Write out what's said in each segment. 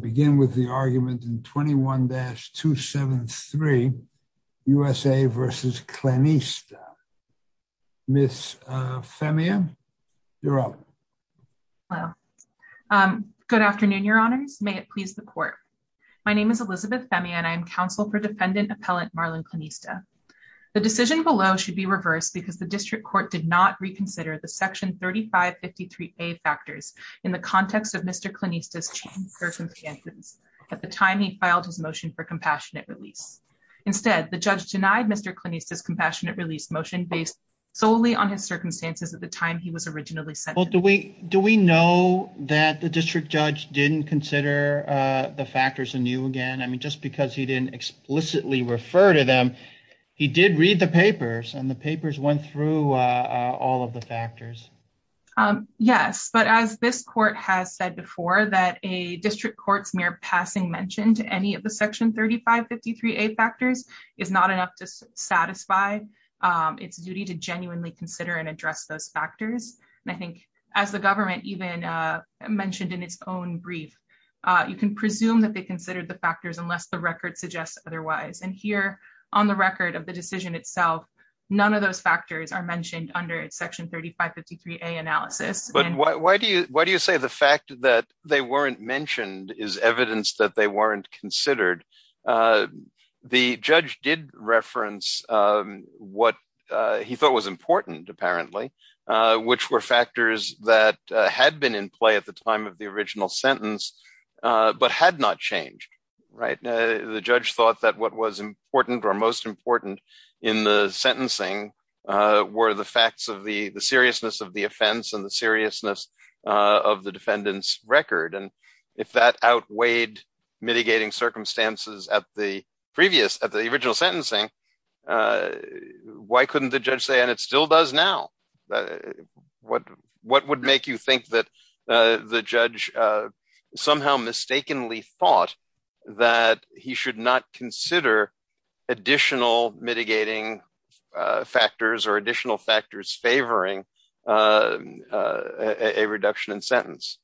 begin with the argument in 21-273 USA v. Clenista. Ms. Femia, you're up. Good afternoon, your honors. May it please the court. My name is Elizabeth Femia and I am counsel for defendant appellant Marlon Clenista. The decision below should be reversed because the district court did not reconsider the section 3553A factors in the context of Mr. Clenista's circumstances at the time he filed his motion for compassionate release. Instead, the judge denied Mr. Clenista's compassionate release motion based solely on his circumstances at the time he was originally sent. Well, do we know that the district judge didn't consider the factors anew again? I mean, just because he didn't explicitly refer to them, he did read the papers and the papers went through all of the factors. Yes, but as this district court's mere passing mentioned, any of the section 3553A factors is not enough to satisfy its duty to genuinely consider and address those factors. And I think as the government even mentioned in its own brief, you can presume that they considered the factors unless the record suggests otherwise. And here on the record of the decision itself, none of those factors are mentioned as evidence that they weren't considered. The judge did reference what he thought was important, apparently, which were factors that had been in play at the time of the original sentence, but had not changed. The judge thought that what was important or most important in the sentencing were the facts of the seriousness of the offense and the seriousness of the defendant's record. And if that outweighed mitigating circumstances at the previous, at the original sentencing, why couldn't the judge say, and it still does now? What would make you think that the judge somehow mistakenly thought that he should not consider additional mitigating factors or additional factors favoring a reduction in sentence?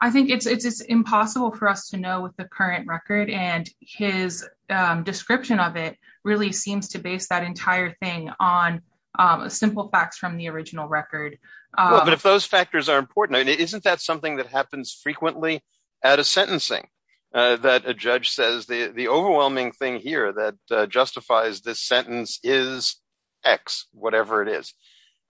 I think it's impossible for us to know with the current record and his description of it really seems to base that entire thing on simple facts from the original record. But if those factors are important, isn't that something that happens frequently at a sentencing that a judge says the overwhelming thing here that justifies this sentence is X, whatever it is.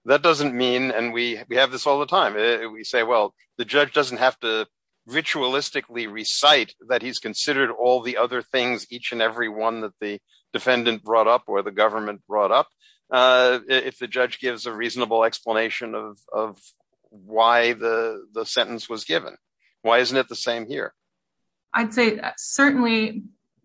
That doesn't mean, and we have this all the time, we say, well, the judge doesn't have to ritualistically recite that he's considered all the other things, each and every one that the defendant brought up or the government brought up. If the judge gives a reasonable explanation of why the sentence was given, why isn't it the same here? I'd say certainly,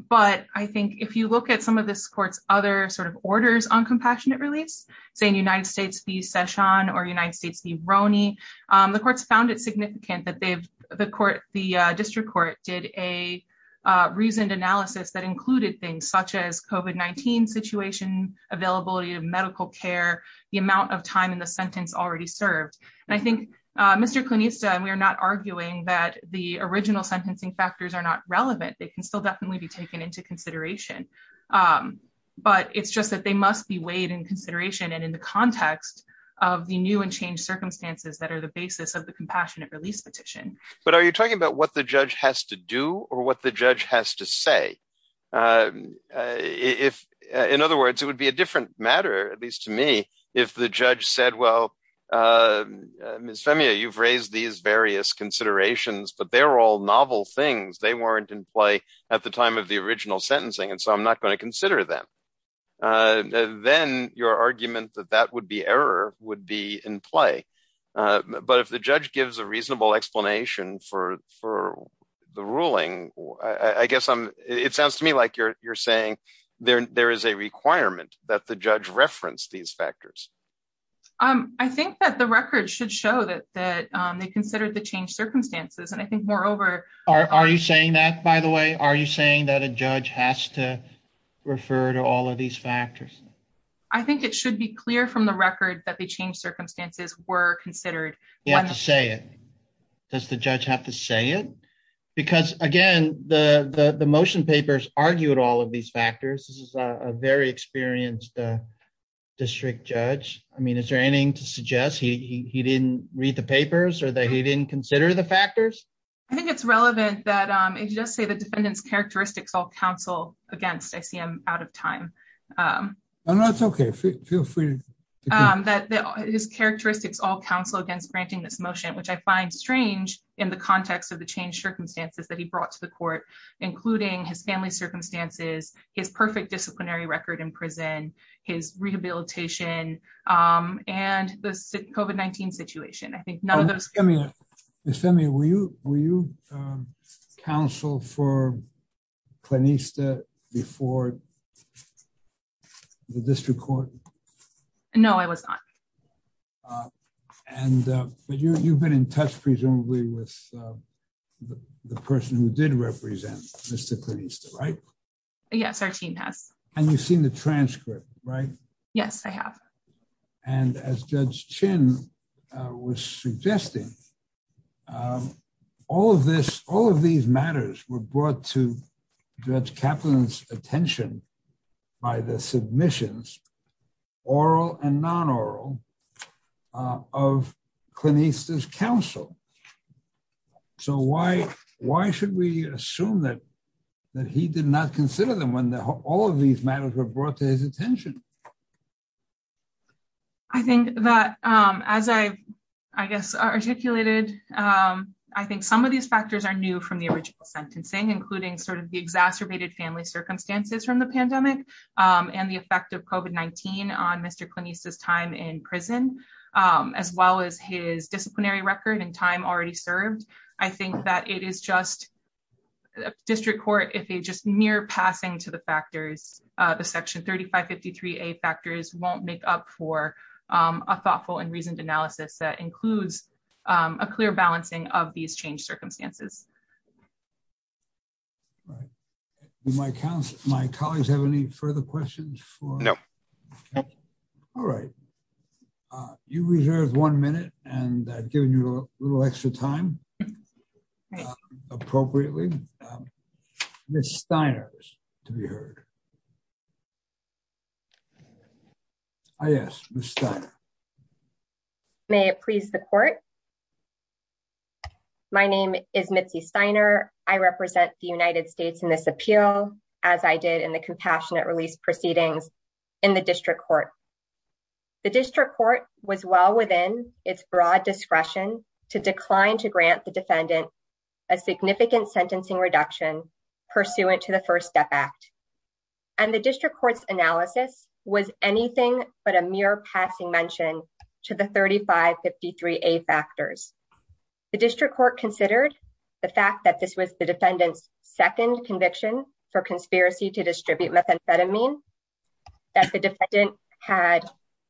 but I think if you look at some of this court's other sort of orders on compassionate release, say in United States v. Session or United States v. Roney, the courts found it significant that they've, the court, the district court did a reasoned analysis that included things such as COVID-19 situation, availability of medical care, the amount of time in the sentence already served. And I think Mr. Clunista and we are not arguing that the original sentencing factors are not relevant. They can still definitely be taken into consideration, but it's just that they must be weighed in consideration and in the context of the new and changed circumstances that are the basis of the compassionate release petition. But are you talking about what the judge has to do or what the judge has to say? If, in other words, it would be a different matter, at least to me, if the judge said, well, Ms. Femia, you've raised these various considerations, but they're all novel things. They weren't in play at the time of the original sentencing, and so I'm not going to consider them. Then your argument that that would be error would be in play. But if the judge gives a like you're saying, there is a requirement that the judge referenced these factors. I think that the record should show that they considered the changed circumstances, and I think moreover- Are you saying that, by the way? Are you saying that a judge has to refer to all of these factors? I think it should be clear from the record that the changed circumstances were considered- You have to say it. Does the judge have to say it? Because again, the motion papers argued all of these factors. This is a very experienced district judge. I mean, is there anything to suggest he didn't read the papers or that he didn't consider the factors? I think it's relevant that if you just say the defendant's characteristics all counsel against, I see I'm out of time. Oh, no, it's okay. Feel free to- His characteristics all counsel against granting this motion, which I find strange in the context of the changed circumstances that he brought to the court, including his family circumstances, his perfect disciplinary record in prison, his rehabilitation, and the COVID-19 situation. I think none of those- Ms. Femi, were you counsel for Clinista before the district court? No, I was not. But you've been in touch presumably with the person who did represent Mr. Clinista, right? Yes, our team has. And you've seen the transcript, right? Yes, I have. And as Judge Chin was suggesting, all of these matters were brought to Judge Kaplan's attention by the submissions, oral and non-oral, of Clinista's counsel. So why should we assume that he did not consider them when all of these matters were brought to his attention? I think that as I've, I guess, articulated, I think some of these factors are new from the original sentencing, including sort of the exacerbated family circumstances from the pandemic and the effect of COVID-19 on Mr. Clinista's time in prison, as well as his disciplinary record and time already served. I think that it is just, district court, if they just mere passing to the factors, the section 3553A factors won't make up for a thoughtful and reasoned analysis that we've had. Do my colleagues have any further questions? No. All right. You reserve one minute, and I've given you a little extra time, appropriately. Ms. Steiner, to be heard. Yes, Ms. Steiner. May it please the court. My name is Mitzi Steiner. I represent the United States in this appeal, as I did in the compassionate release proceedings in the district court. The district court was well within its broad discretion to decline to grant the defendant a significant sentencing reduction pursuant to the First Step Act. And the district court's analysis was anything but a mere passing mention to the 3553A factors. The district court considered the fact that this was the defendant's second conviction for conspiracy to distribute methamphetamine, that the defendant had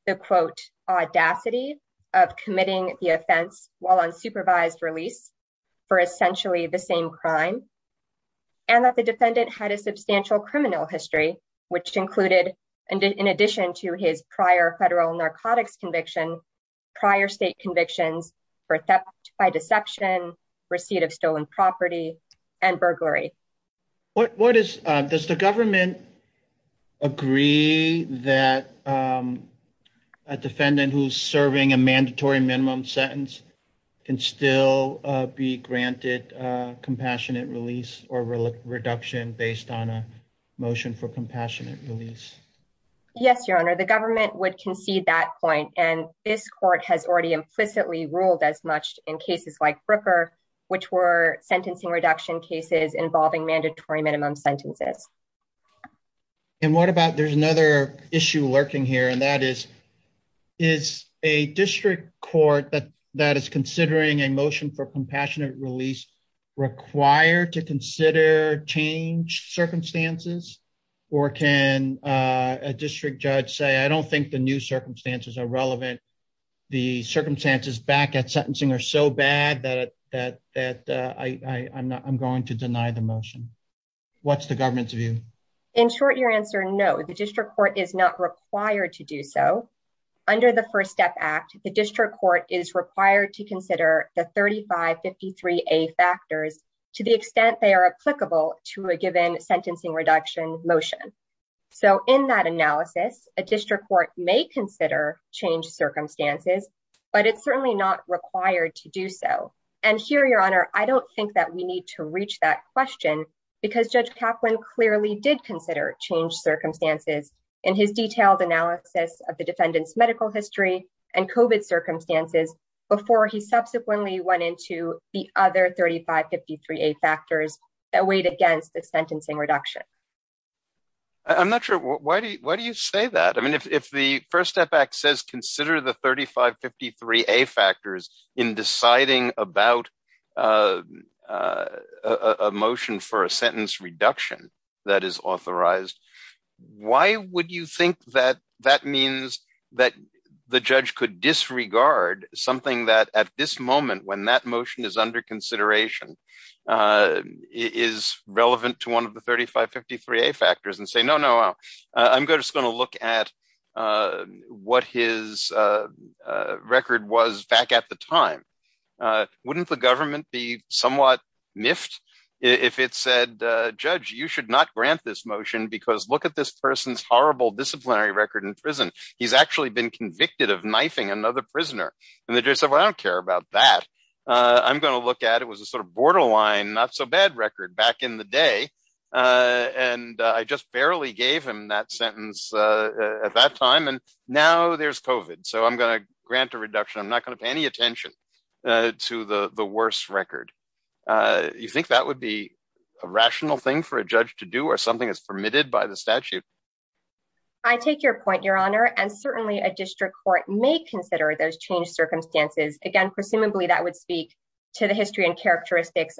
the, quote, audacity of committing the offense while on supervised release for essentially the same crime, and that the defendant had a substantial criminal history, which included, in addition to his prior federal narcotics conviction, prior state convictions for theft by deception, receipt of stolen property, and burglary. What is, does the government agree that a defendant who's serving a mandatory minimum sentence can still be granted compassionate release or reduction based on a motion for compassionate release? Yes, Your Honor. The government would concede that point, and this court has already implicitly ruled as much in cases like Brooker, which were sentencing reduction cases involving mandatory minimum sentences. And what about, there's another issue lurking here, and that is, is a district court that is considering a motion for compassionate release required to consider changed circumstances? Or can a district judge say, I don't think the new circumstances are relevant. The circumstances back at sentencing are so bad that I'm going to deny the motion. What's the government's view? In short, your answer, no, the district court is not required to do so. Under the First Step Act, the district court is required to consider the 3553A factors to the extent they are applicable to a given sentencing reduction motion. So in that analysis, a district court may consider changed circumstances, but it's certainly not required to do so. And here, Your Honor, I don't think that we need to reach that in his detailed analysis of the defendant's medical history and COVID circumstances before he subsequently went into the other 3553A factors that weighed against the sentencing reduction. I'm not sure, why do you say that? I mean, if the First Step Act says consider the 3553A factors in deciding about a motion for a sentence reduction that is authorized, why would you think that that means that the judge could disregard something that at this moment, when that motion is under consideration, is relevant to one of the 3553A factors and say, I'm just going to look at what his record was back at the time. Wouldn't the government be somewhat miffed if it said, judge, you should not grant this motion because look at this person's horrible disciplinary record in prison. He's actually been convicted of knifing another prisoner. And the judge said, well, I don't care about that. I'm going to look at, it was a sort of line, not so bad record back in the day. And I just barely gave him that sentence at that time. And now there's COVID. So I'm going to grant a reduction. I'm not going to pay any attention to the worst record. You think that would be a rational thing for a judge to do or something that's permitted by the statute? I take your point, Your Honor. And certainly a district court may consider those changed circumstances. Again, presumably that would speak to the history and defense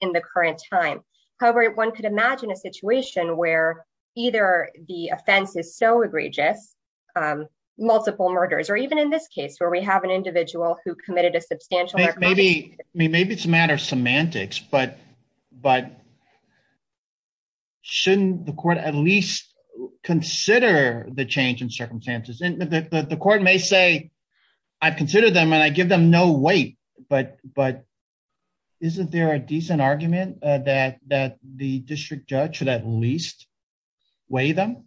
in the current time. However, one could imagine a situation where either the offense is so egregious, multiple murders, or even in this case where we have an individual who committed a substantial... Maybe it's a matter of semantics, but shouldn't the court at least consider the change in circumstances? The court may say, I've considered them and I give them no weight, but isn't there a decent argument that the district judge should at least weigh them?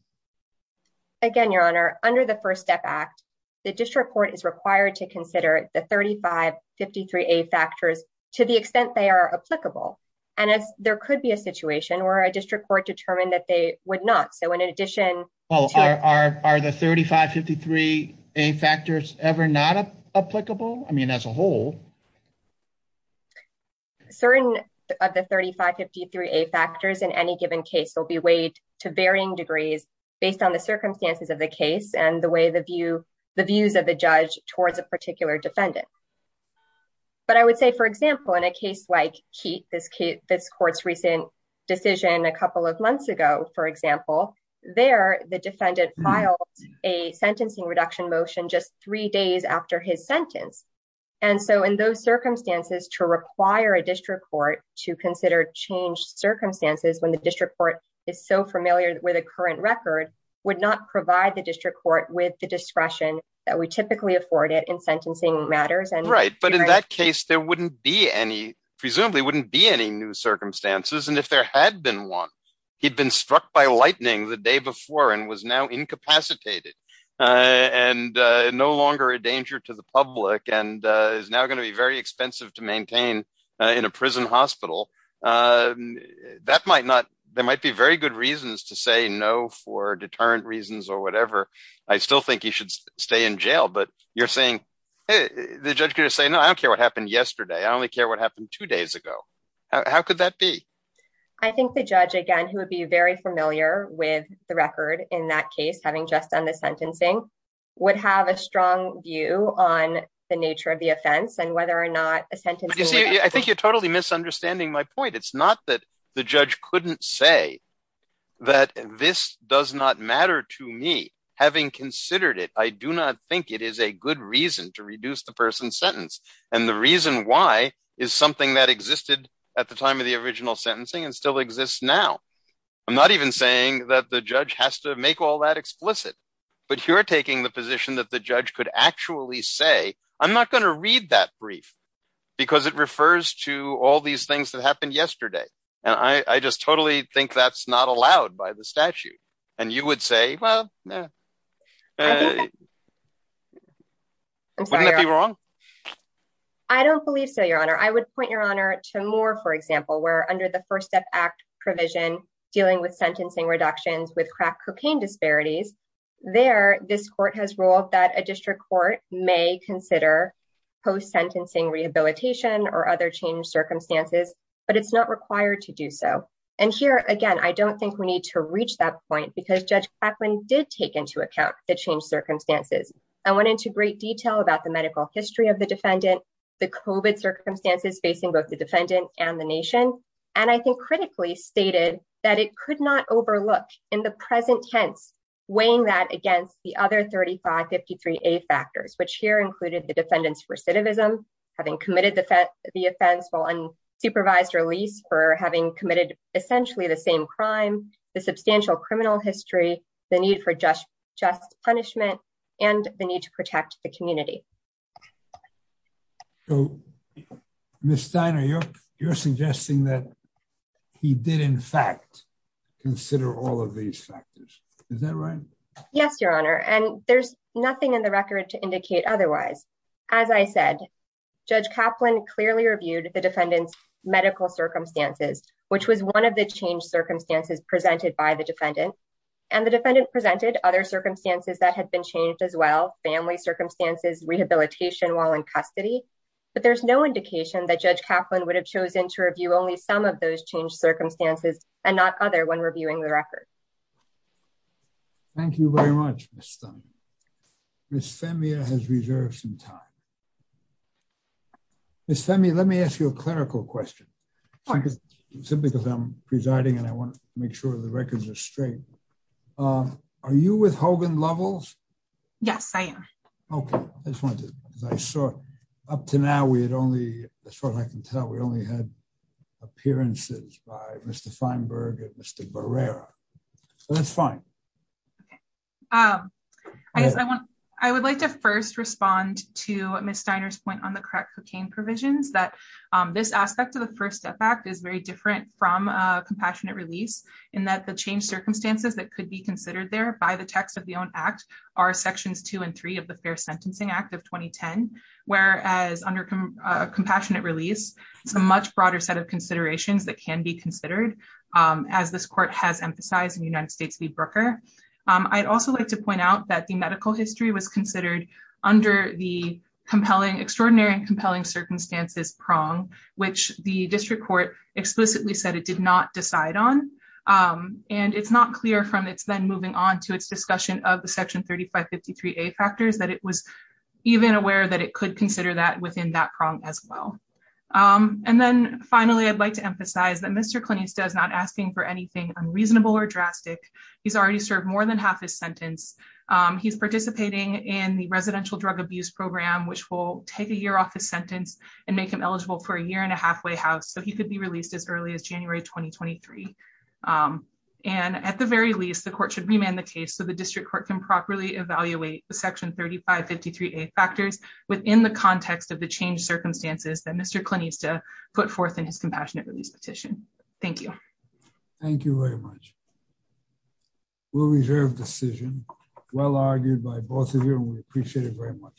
Again, Your Honor, under the First Step Act, the district court is required to consider the 3553A factors to the extent they are applicable. And there could be a situation where a district court determined that they would not. So in addition to- 3553A factors ever not applicable? I mean, as a whole? Certain of the 3553A factors in any given case will be weighed to varying degrees based on the circumstances of the case and the views of the judge towards a particular defendant. But I would say, for example, in a case like Keet, this court's recent decision a couple of motion just three days after his sentence. And so in those circumstances, to require a district court to consider changed circumstances when the district court is so familiar with the current record would not provide the district court with the discretion that we typically afford it in sentencing matters. Right. But in that case, there wouldn't be any... Presumably wouldn't be any new circumstances. And if there had been one, he'd been struck by lightning the day before and was now incapacitated and no longer a danger to the public and is now going to be very expensive to maintain in a prison hospital. That might not... There might be very good reasons to say no for deterrent reasons or whatever. I still think he should stay in jail, but you're saying, the judge could just say, no, I don't care what happened yesterday. I only care what happened two days ago. How could that be? I think the judge, again, who would be very familiar with the record in that case, having just done the sentencing, would have a strong view on the nature of the offense and whether or not a sentencing... You see, I think you're totally misunderstanding my point. It's not that the judge couldn't say that this does not matter to me. Having considered it, I do not think it is a good reason to reduce the person's sentence. And the reason why is something that existed at the time of the original sentencing and still exists now. I'm not even saying that the judge has to make all that explicit, but you're taking the position that the judge could actually say, I'm not going to read that brief because it refers to all these things that happened yesterday. And I just totally think that's not allowed by the statute. And you would say, well, wouldn't that be wrong? I don't believe so, your honor. I would point your honor to Moore, for example, where under the First Step Act provision, dealing with sentencing reductions with crack cocaine disparities, there, this court has ruled that a district court may consider post-sentencing rehabilitation or other changed circumstances, but it's not required to do so. And here, again, I don't think we need to reach that point because Judge Claflin did take into account the changed circumstances. I went into great detail about the medical history of the defendant, the COVID circumstances facing both the defendant and the nation. And I think critically stated that it could not overlook in the present tense, weighing that against the other 3553A factors, which here included the defendant's recidivism, having committed the offense while unsupervised release for having committed essentially the same crime, the substantial criminal history, the need for just punishment, and the need to protect the community. So, Ms. Steiner, you're suggesting that he did, in fact, consider all of these factors. Is that right? Yes, your honor. And there's nothing in the record to indicate otherwise. As I said, Judge Caplan clearly reviewed the defendant's medical circumstances, which was one of the changed circumstances presented by the defendant. And the defendant presented other but there's no indication that Judge Caplan would have chosen to review only some of those changed circumstances and not other when reviewing the record. Thank you very much, Ms. Steiner. Ms. Femi has reserved some time. Ms. Femi, let me ask you a clerical question. Simply because I'm presiding and I want to make sure the records are straight. Are you with Hogan Lovells? Yes, I am. Okay, I just wanted to, as I saw, up to now, we had only, as far as I can tell, we only had appearances by Mr. Feinberg and Mr. Barrera. So that's fine. I would like to first respond to Ms. Steiner's point on the crack cocaine provisions that this aspect of the First Step Act is very different from a compassionate release, in that the changed circumstances that could be considered there by the text of the own act are sections two and three of the Fair Sentencing Act of 2010. Whereas under compassionate release, it's a much broader set of considerations that can be considered. As this court has emphasized in the United States v. Brooker. I'd also like to point out that the medical history was considered under the compelling extraordinary and compelling circumstances prong, which the district court explicitly said it did not decide on. And it's not clear from then moving on to its discussion of the section 3553a factors that it was even aware that it could consider that within that prong as well. And then finally, I'd like to emphasize that Mr. Clinista is not asking for anything unreasonable or drastic. He's already served more than half his sentence. He's participating in the residential drug abuse program, which will take a year off his sentence and make him eligible for a year and a halfway house. So he could be the court should remand the case so the district court can properly evaluate the section 3553a factors within the context of the change circumstances that Mr. Clinista put forth in his compassionate release petition. Thank you. Thank you very much. Will reserve decision. Well argued by both of you. We appreciate it very much.